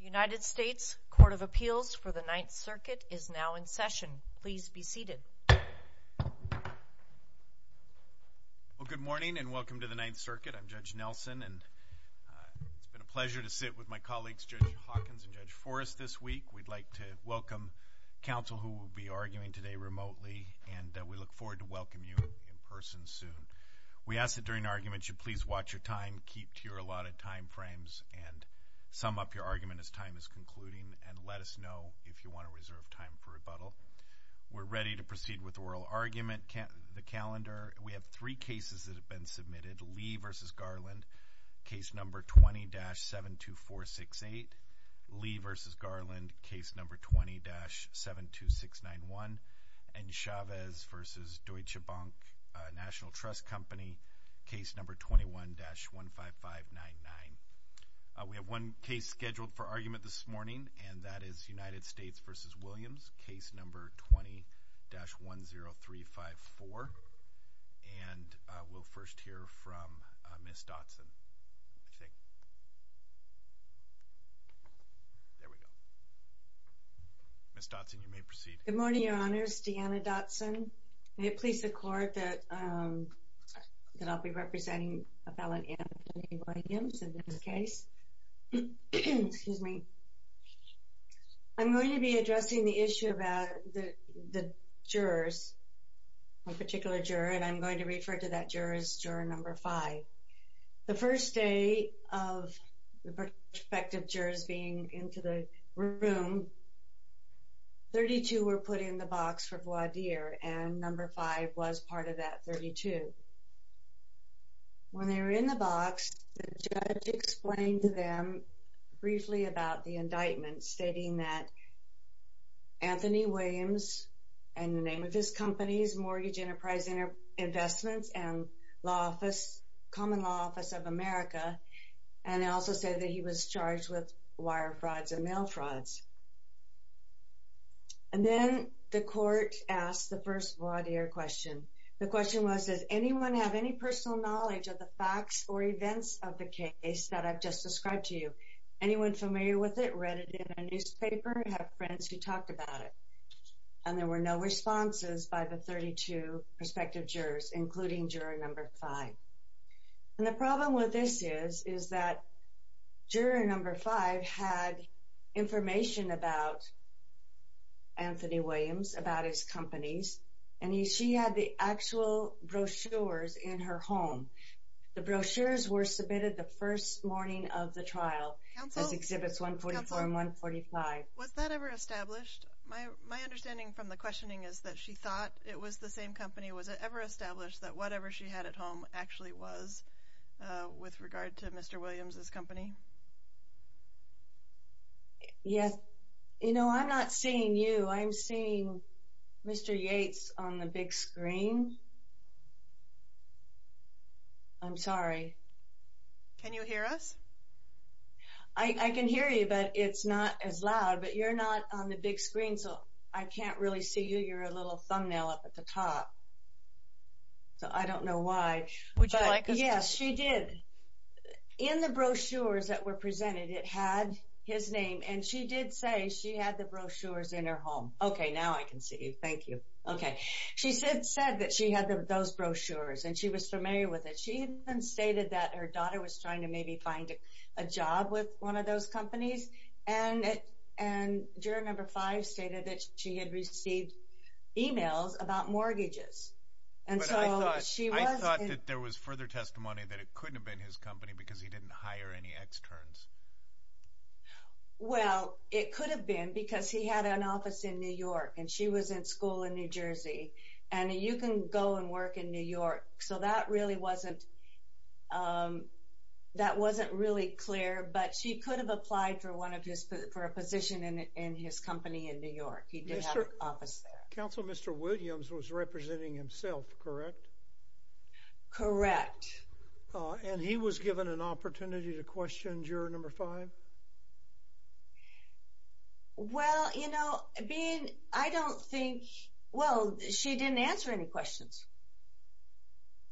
United States Court of Appeals for the Ninth Circuit is now in session. Please be seated. Well, good morning and welcome to the Ninth Circuit. I'm Judge Nelson and it's been a pleasure to sit with my colleagues, Judge Hawkins and Judge Forrest, this week. We'd like to welcome counsel who will be arguing today remotely and we look forward to welcoming you in person soon. We ask that during argument you please watch your time, keep to your allotted time frames and sum up your argument as time is concluding and let us know if you want to reserve time for rebuttal. We're ready to proceed with oral argument. The calendar, we have three cases that have been submitted. Lee v. Garland, case number 20-72468. Lee v. Garland, case number 20-72691. And Chavez v. Deutsche Bank National Trust Company, case number 21-15599. We have one case scheduled for argument this morning and that is United States v. Williams, case number 20-10354. And we'll first hear from Ms. Dotson. There we go. Ms. Dotson, you may proceed. Good morning, Your Honors. Deanna Dotson. May it please the Court that I'll be representing a felon, Anthony Williams, in this case. Excuse me. I'm going to be addressing the issue about the jurors, one particular juror, and I'm going to refer to that juror as juror number five. The first day of the perspective jurors being into the room, 32 were put in the box for voir dire and number five was part of that 32. When they were in the box, the judge explained to them briefly about the indictment, stating that Anthony Williams, in the name of his company, Mortgage Enterprise Investments and Law Office, Common Law Office of America, and also said that he was charged with wire frauds and mail frauds. And then the court asked the first voir dire question. The question was, does anyone have any personal knowledge of the facts or events of the case that I've just described to you? Anyone familiar with it, read it in a newspaper, have friends who talked about it? And there were no responses by the 32 perspective jurors, including juror number five. And the problem with this is, is that juror number five had information about Anthony Williams, about his companies, and she had the actual brochures in her home. The brochures were submitted the first morning of the trial, as Exhibits 144 and 145. Was that ever established? My understanding from the questioning is that she thought it was the same company. Was it ever established that whatever she had at home actually was, with regard to Mr. Williams' company? Yes. You know, I'm not seeing you. I'm seeing Mr. Yates on the big screen. I'm sorry. Can you hear us? I can hear you, but it's not as loud. But you're not on the big screen, so I can't really see you. You're a little thumbnail up at the top. So I don't know why. Would you like us to... The brochures that were presented, it had his name, and she did say she had the brochures in her home. Okay, now I can see you. Thank you. Okay. She said that she had those brochures, and she was familiar with it. She even stated that her daughter was trying to maybe find a job with one of those companies. And juror number five stated that she had received emails about mortgages. But I thought that there was further testimony that it couldn't have been his company because he didn't hire any externs. Well, it could have been because he had an office in New York, and she was in school in New Jersey. And you can go and work in New York. So that really wasn't... That wasn't really clear, but she could have applied for a position in his company in New York. He did have an office there. Counsel, Mr. Williams was representing himself, correct? Correct. And he was given an opportunity to question juror number five? Well, you know, being... I don't think... Well, she didn't answer any questions.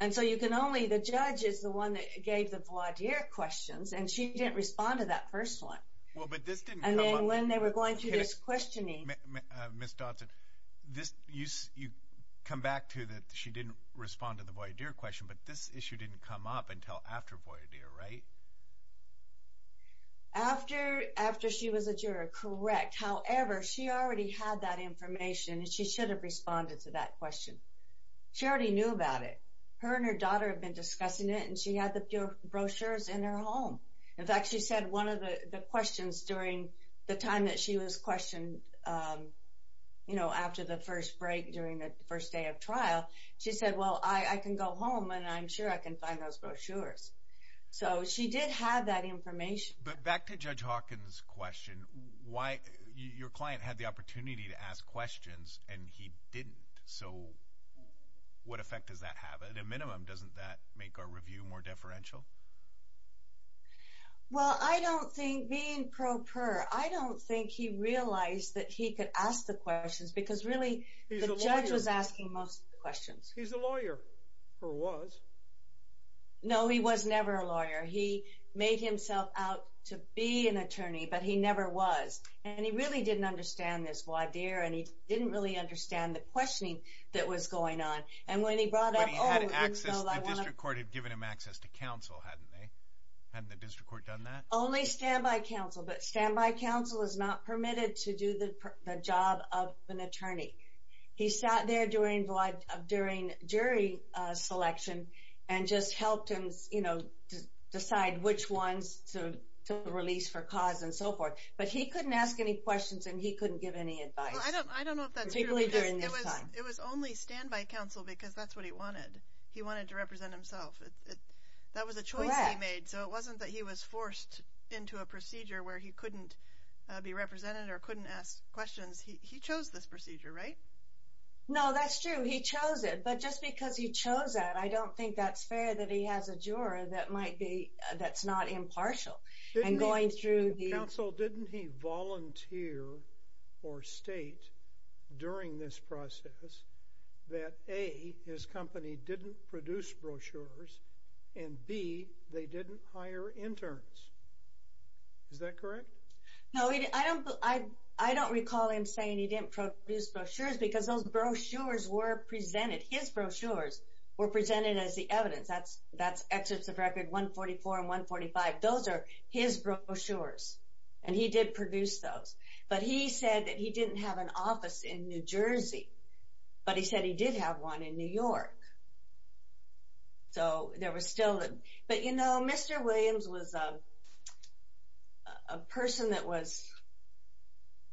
And so you can only... The judge is the one that gave the voir dire questions, and she didn't respond to that first one. Well, but this didn't come up... And then when they were going through this questioning... Ms. Dodson, this... You come back to that she didn't respond to the voir dire question, but this issue didn't come up until after voir dire, right? After she was a juror, correct. However, she already had that information, and she should have responded to that question. She already knew about it. Her and her daughter had been discussing it, and she had the brochures in her home. In fact, she said one of the questions during the time that she was questioned, you know, after the first break during the first day of trial, she said, well, I can go home, and I'm sure I can find those brochures. So she did have that information. But back to Judge Hawkins' question, why... Your client had the opportunity to ask questions, and he didn't. So what effect does that have? At a minimum, doesn't that make our review more deferential? Well, I don't think... Being pro per, I don't think he realized that he could ask the questions, because really, the judge was asking most of the questions. He's a lawyer, or was. No, he was never a lawyer. He made himself out to be an attorney, but he never was. And he really didn't understand this voir dire, and he didn't really understand the questioning that was going on. And when he brought up... The district court had given him access to counsel, hadn't they? Hadn't the district court done that? Only standby counsel, but standby counsel is not permitted to do the job of an attorney. He sat there during jury selection and just helped him, you know, decide which ones to release for cause and so forth. But he couldn't ask any questions, and he couldn't give any advice. Well, I don't know if that's true. Particularly during this time. It was only standby counsel, because that's what he wanted. He wanted to represent himself. That was a choice he made. Correct. So it wasn't that he was forced into a procedure where he couldn't be represented or couldn't ask questions. He chose this procedure, right? No, that's true. He chose it. But just because he chose that, I don't think that's fair that he has a juror that might be... that's not impartial. And going through the... that A, his company didn't produce brochures, and B, they didn't hire interns. Is that correct? No, I don't recall him saying he didn't produce brochures, because those brochures were presented. His brochures were presented as the evidence. That's Excerpts of Record 144 and 145. Those are his brochures, and he did produce those. But he said that he didn't have an office in New Jersey, but he said he did have one in New York. So there was still... But, you know, Mr. Williams was a person that was,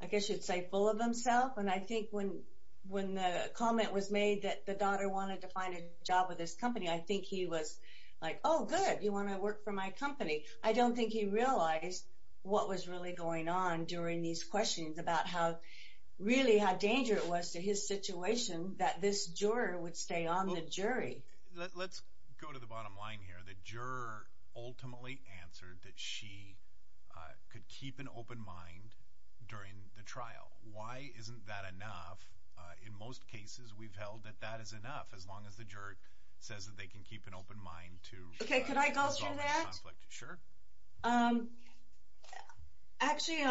I guess you'd say, full of himself. And I think when the comment was made that the daughter wanted to find a job with his company, I think he was like, oh, good, you want to work for my company. I don't think he realized what was really going on during these questions about how, really, how dangerous it was to his situation that this juror would stay on the jury. Let's go to the bottom line here. The juror ultimately answered that she could keep an open mind during the trial. Why isn't that enough? In most cases, we've held that that is enough, as long as the juror says that they can keep an open mind to... Okay, could I go through that? Sure. Actually,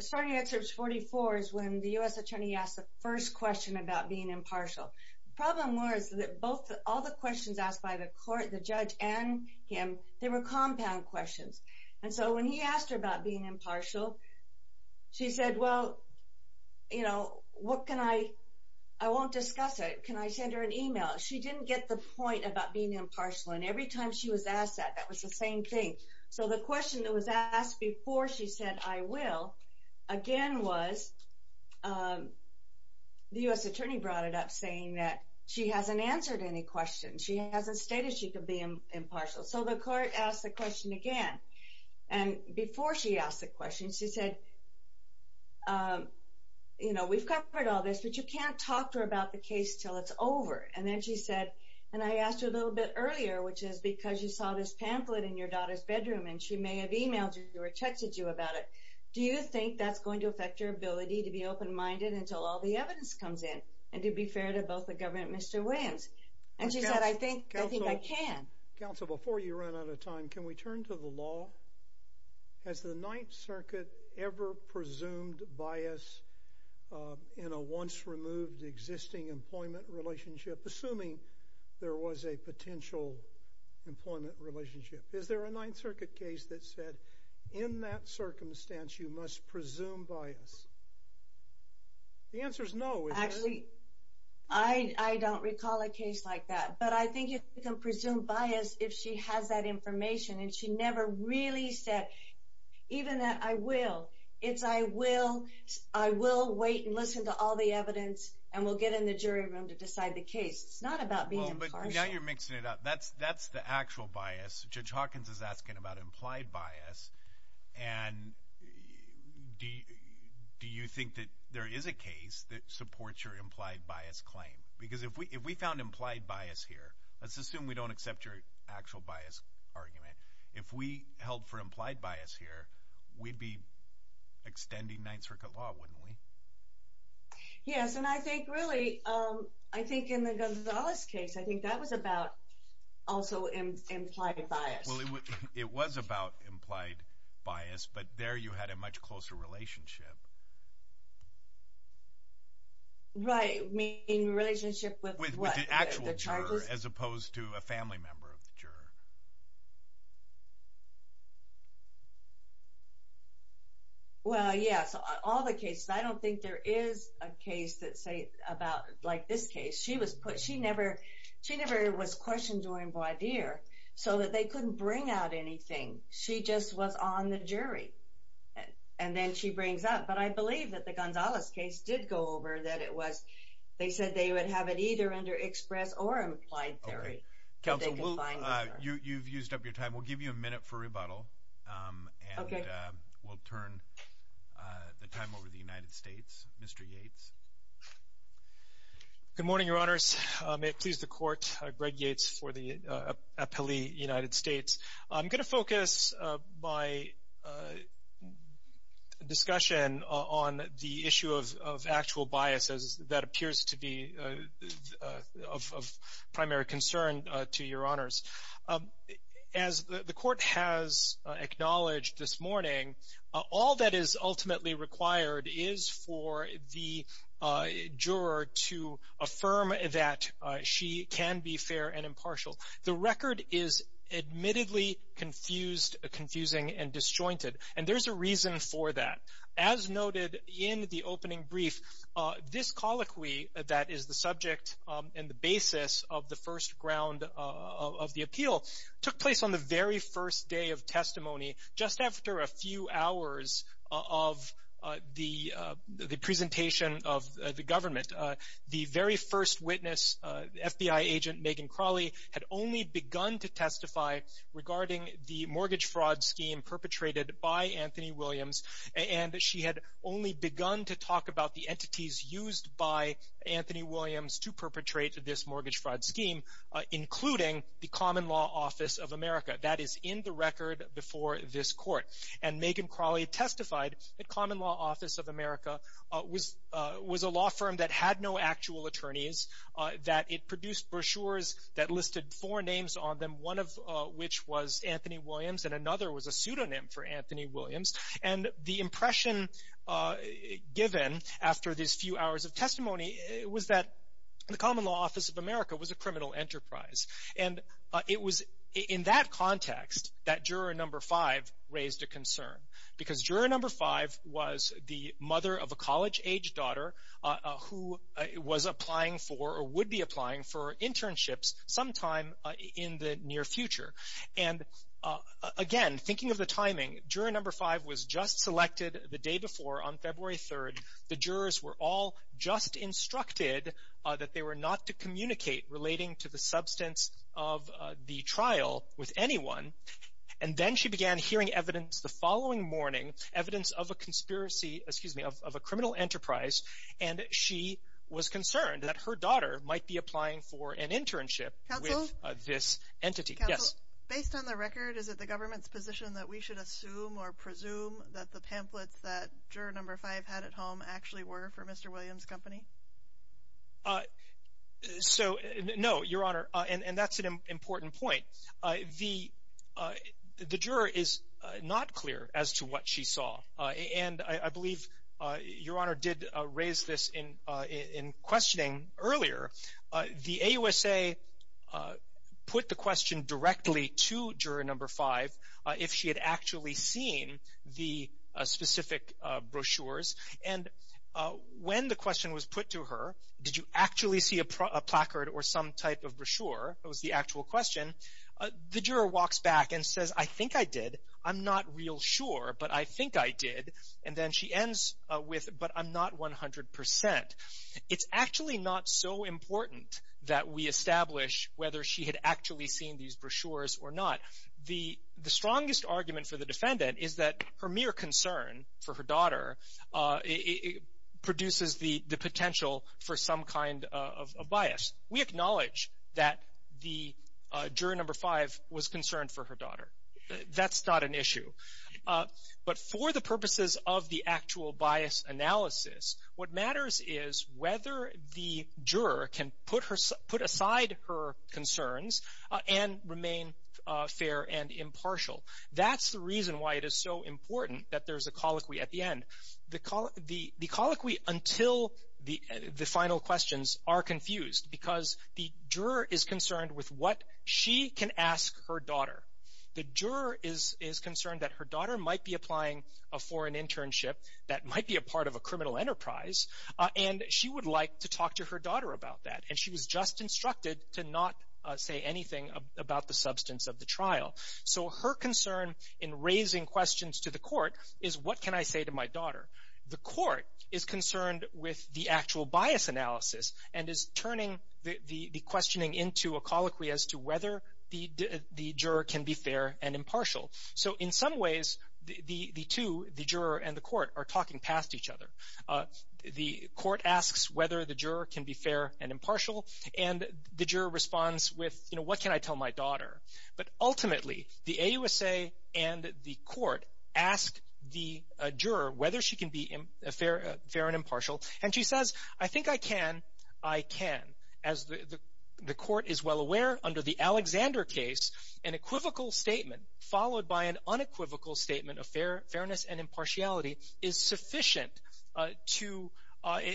starting at page 44 is when the U.S. attorney asked the first question about being impartial. The problem was that all the questions asked by the court, the judge, and him, they were compound questions. And so when he asked her about being impartial, she said, well, you know, what can I... I won't discuss it. Can I send her an email? She didn't get the point about being impartial. And every time she was asked that, that was the same thing. So the question that was asked before she said, I will, again, was... The U.S. attorney brought it up, saying that she hasn't answered any questions. She hasn't stated she could be impartial. So the court asked the question again. And before she asked the question, she said, you know, we've covered all this, but you can't talk to her about the case until it's over. And then she said, and I asked her a little bit earlier, which is because you saw this pamphlet in your daughter's bedroom, and she may have emailed you or texted you about it. Do you think that's going to affect your ability to be open-minded until all the evidence comes in? And to be fair to both the government and Mr. Williams. And she said, I think I can. Counsel, before you run out of time, can we turn to the law? Has the Ninth Circuit ever presumed bias in a once-removed existing employment relationship, assuming there was a potential employment relationship? Is there a Ninth Circuit case that said, in that circumstance, you must presume bias? The answer is no. Actually, I don't recall a case like that. But I think you can presume bias if she has that information, and she never really said even that I will. It's I will, I will wait and listen to all the evidence, and we'll get in the jury room to decide the case. It's not about being impartial. But now you're mixing it up. That's the actual bias. Judge Hawkins is asking about implied bias. And do you think that there is a case that supports your implied bias claim? Because if we found implied bias here, let's assume we don't accept your actual bias argument. If we held for implied bias here, we'd be extending Ninth Circuit law, wouldn't we? Yes, and I think really, I think in the Gonzalez case, I think that was about also implied bias. Well, it was about implied bias, but there you had a much closer relationship. Right, I mean relationship with what? With the actual juror as opposed to a family member of the juror. Well, yes, all the cases. I don't think there is a case that say about like this case. She never was questioned during voir dire so that they couldn't bring out anything. She just was on the jury. And then she brings up, but I believe that the Gonzalez case did go over that it was, they said they would have it either under express or implied theory. Counsel, you've used up your time. We'll give you a minute for rebuttal, and we'll turn the time over to the United States. Mr. Yates. Good morning, Your Honors. May it please the Court. Greg Yates for the appellee, United States. I'm going to focus my discussion on the issue of actual biases that appears to be of primary concern to Your Honors. As the Court has acknowledged this morning, all that is ultimately required is for the juror to affirm that she can be fair and impartial. The record is admittedly confused, confusing, and disjointed, and there's a reason for that. As noted in the opening brief, this colloquy that is the subject and the basis of the first ground of the appeal took place on the very first day of testimony, just after a few hours of the presentation of the government. The very first witness, FBI agent Megan Crawley, had only begun to testify regarding the mortgage fraud scheme perpetrated by Anthony Williams, and she had only begun to talk about the entities used by Anthony Williams to perpetrate this mortgage fraud scheme, including the Common Law Office of America. That is in the record before this Court. And Megan Crawley testified that Common Law Office of America was a law firm that had no actual attorneys, that it produced brochures that listed four names on them, one of which was Anthony Williams and another was a pseudonym for Anthony Williams. And the impression given after these few hours of testimony was that the Common Law Office of America was a criminal enterprise. And it was in that context that juror number five raised a concern, because juror number five was the mother of a college-aged daughter who was applying for or would be applying for internships sometime in the near future. And again, thinking of the timing, juror number five was just selected the day before on February 3rd. The jurors were all just instructed that they were not to communicate relating to the substance of the trial with anyone. And then she began hearing evidence the following morning, evidence of a conspiracy, excuse me, of a criminal enterprise, and she was concerned that her daughter might be applying for an internship with this entity. Yes? Based on the record, is it the government's position that we should assume or presume that the pamphlets that juror number five had at home actually were for Mr. Williams' company? So, no, Your Honor, and that's an important point. The juror is not clear as to what she saw. And I believe Your Honor did raise this in questioning earlier. The AUSA put the question directly to juror number five if she had actually seen the specific brochures. And when the question was put to her, did you actually see a placard or some type of brochure, that was the actual question, the juror walks back and says, I think I did. I'm not real sure, but I think I did. And then she ends with, but I'm not 100 percent. It's actually not so important that we establish whether she had actually seen these brochures or not. The strongest argument for the defendant is that her mere concern for her daughter produces the potential for some kind of bias. We acknowledge that the juror number five was concerned for her daughter. That's not an issue. But for the purposes of the actual bias analysis, what matters is whether the juror can put aside her concerns and remain fair and impartial. That's the reason why it is so important that there's a colloquy at the end. The colloquy until the final questions are confused because the juror is concerned with what she can ask her daughter. The juror is concerned that her daughter might be applying for an internship that might be a part of a criminal enterprise, and she would like to talk to her daughter about that. And she was just instructed to not say anything about the substance of the trial. So her concern in raising questions to the court is, what can I say to my daughter? The court is concerned with the actual bias analysis and is turning the questioning into a colloquy as to whether the juror can be fair and impartial. So in some ways, the two, the juror and the court, are talking past each other. The court asks whether the juror can be fair and impartial, and the juror responds with, you know, what can I tell my daughter? But ultimately, the AUSA and the court ask the juror whether she can be fair and impartial, and she says, I think I can. I can. As the court is well aware, under the Alexander case, an equivocal statement followed by an unequivocal statement of fairness and impartiality is sufficient to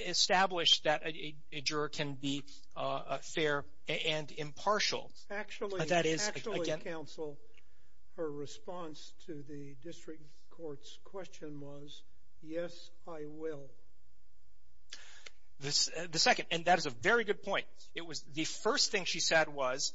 establish that a juror can be fair and impartial. Actually, counsel, her response to the district court's question was, yes, I will. The second, and that is a very good point. It was the first thing she said was,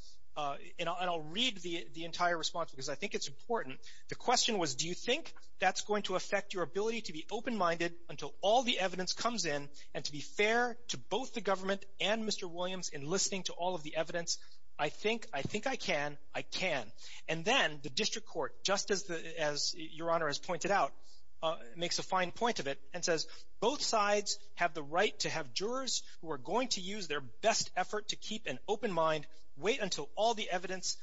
and I'll read the entire response because I think it's important. The question was, do you think that's going to affect your ability to be open-minded until all the evidence comes in and to be fair to both the government and Mr. Williams in listening to all of the evidence? I think I can. I can. And then the district court, just as Your Honor has pointed out, makes a fine point of it and says both sides have the right to have jurors who are going to use their best effort to keep an open mind, wait until all the evidence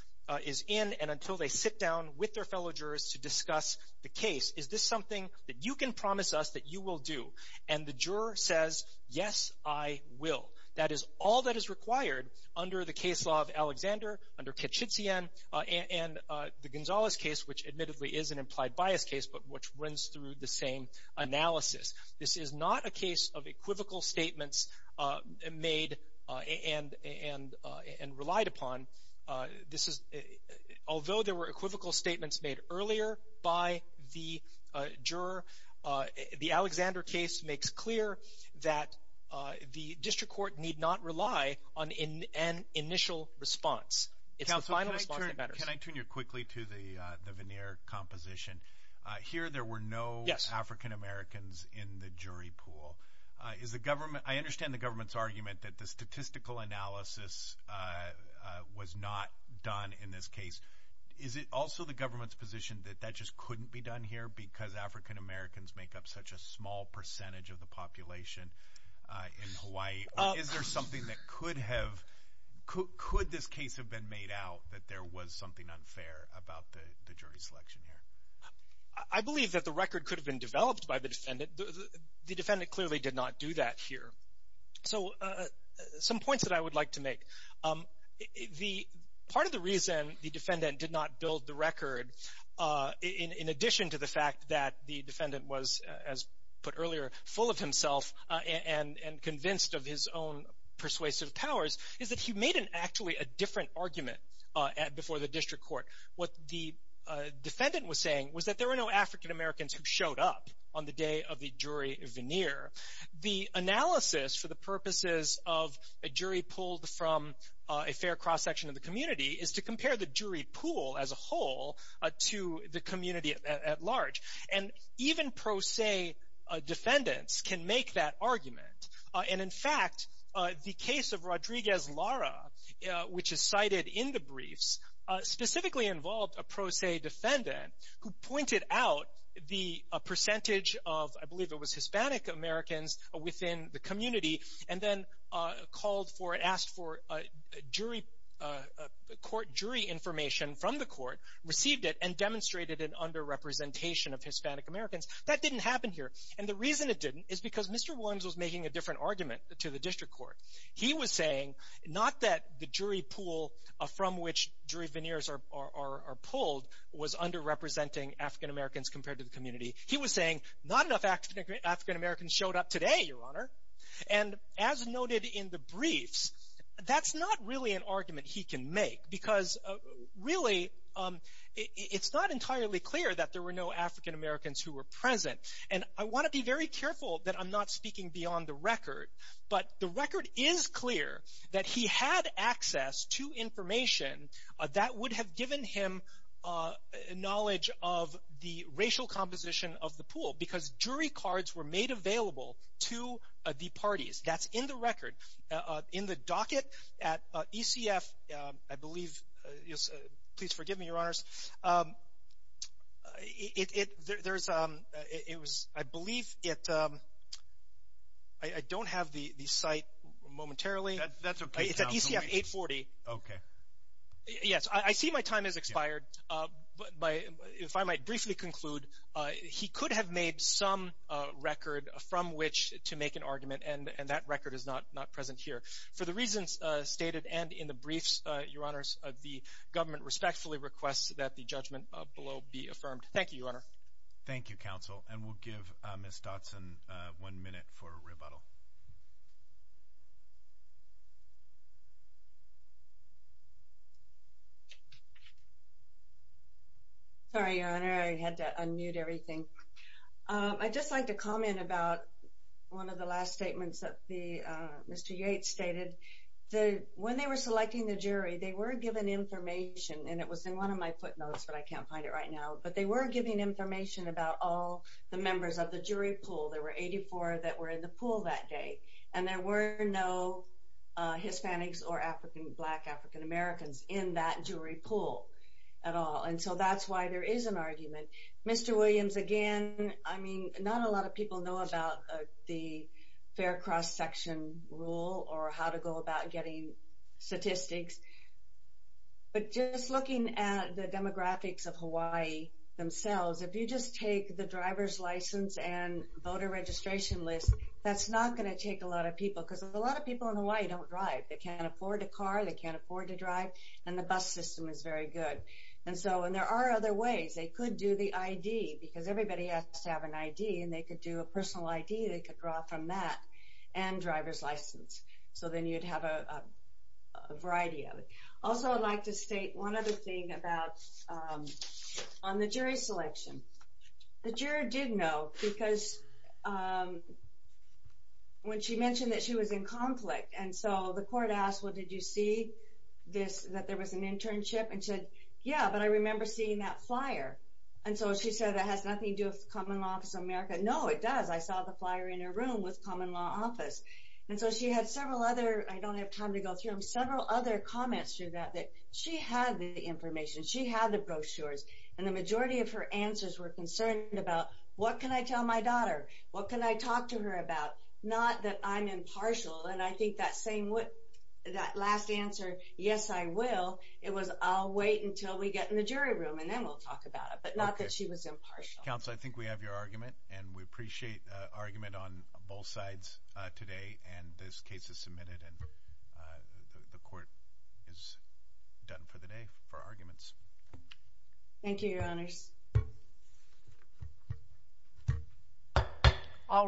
is in, and until they sit down with their fellow jurors to discuss the case. Is this something that you can promise us that you will do? And the juror says, yes, I will. That is all that is required under the case law of Alexander, under Kitschitzian, and the Gonzalez case, which admittedly is an implied bias case, but which runs through the same analysis. This is not a case of equivocal statements made and relied upon. Although there were equivocal statements made earlier by the juror, the Alexander case makes clear that the district court need not rely on an initial response. It's the final response that matters. Can I tune you quickly to the veneer composition? Here there were no African-Americans in the jury pool. I understand the government's argument that the statistical analysis was not done in this case. Is it also the government's position that that just couldn't be done here because African-Americans make up such a small percentage of the population in Hawaii? Or is there something that could have, could this case have been made out that there was something unfair about the jury selection here? I believe that the record could have been developed by the defendant. The defendant clearly did not do that here. So some points that I would like to make. Part of the reason the defendant did not build the record, in addition to the fact that the defendant was, as put earlier, full of himself and convinced of his own persuasive powers, is that he made actually a different argument before the district court. What the defendant was saying was that there were no African-Americans who showed up on the day of the jury veneer. The analysis for the purposes of a jury pulled from a fair cross-section of the community is to compare the jury pool as a whole to the community at large. And even pro se defendants can make that argument. And in fact, the case of Rodriguez-Lara, which is cited in the briefs, specifically involved a pro se defendant who pointed out the percentage of, I believe it was Hispanic-Americans within the community, and then called for, asked for jury information from the court, received it, and demonstrated an under-representation of Hispanic-Americans. That didn't happen here. And the reason it didn't is because Mr. Williams was making a different argument to the district court. He was saying not that the jury pool from which jury veneers are pulled was under-representing African-Americans compared to the community. He was saying not enough African-Americans showed up today, Your Honor. And as noted in the briefs, that's not really an argument he can make because really it's not entirely clear that there were no African-Americans who were present. And I want to be very careful that I'm not speaking beyond the record, but the record is clear that he had access to information that would have given him knowledge of the racial composition of the pool because jury cards were made available to the parties. That's in the record. In the docket at ECF, I believe, please forgive me, Your Honors. It was, I believe it, I don't have the site momentarily. That's okay. It's at ECF 840. Okay. Yes. I see my time has expired. If I might briefly conclude, he could have made some record from which to make an argument, and that record is not present here. For the reasons stated and in the briefs, Your Honors, the government respectfully requests that the judgment below be affirmed. Thank you, Your Honor. Thank you, counsel. And we'll give Ms. Dodson one minute for rebuttal. Sorry, Your Honor. I had to unmute everything. I'd just like to comment about one of the last statements that Mr. Yates stated. When they were selecting the jury, they were given information, and it was in one of my footnotes, but I can't find it right now, but they were given information about all the members of the jury pool. There were 84 that were in the pool that day, and there were no Hispanics or African, black African-Americans in that jury pool at all. And so that's why there is an argument. Mr. Williams, again, I mean, not a lot of people know about the fair cross-section rule or how to go about getting statistics, but just looking at the demographics of Hawaii themselves, if you just take the driver's license and voter registration list, that's not going to take a lot of people because a lot of people in Hawaii don't drive. They can't afford a car, they can't afford to drive, and the bus system is very good. And so, and there are other ways. They could do the ID because everybody has to have an ID, and they could do a personal ID, they could draw from that, and driver's license. So then you'd have a variety of it. Also, I'd like to state one other thing about on the jury selection. The juror did know because when she mentioned that she was in conflict, and so the court asked, well, did you see this, that there was an internship? And she said, yeah, but I remember seeing that flyer. And so she said that has nothing to do with Common Law Office of America. No, it does. I saw the flyer in her room with Common Law Office. And so she had several other, I don't have time to go through them, several other comments through that that she had the information, she had the brochures, and the majority of her answers were concerned about what can I tell my daughter, what can I talk to her about, not that I'm impartial. And I think that last answer, yes, I will, it was I'll wait until we get in the jury room, and then we'll talk about it, but not that she was impartial. Counsel, I think we have your argument, and we appreciate the argument on both sides today. And this case is submitted, and the court is done for the day for arguments. Thank you, Your Honors. All rise.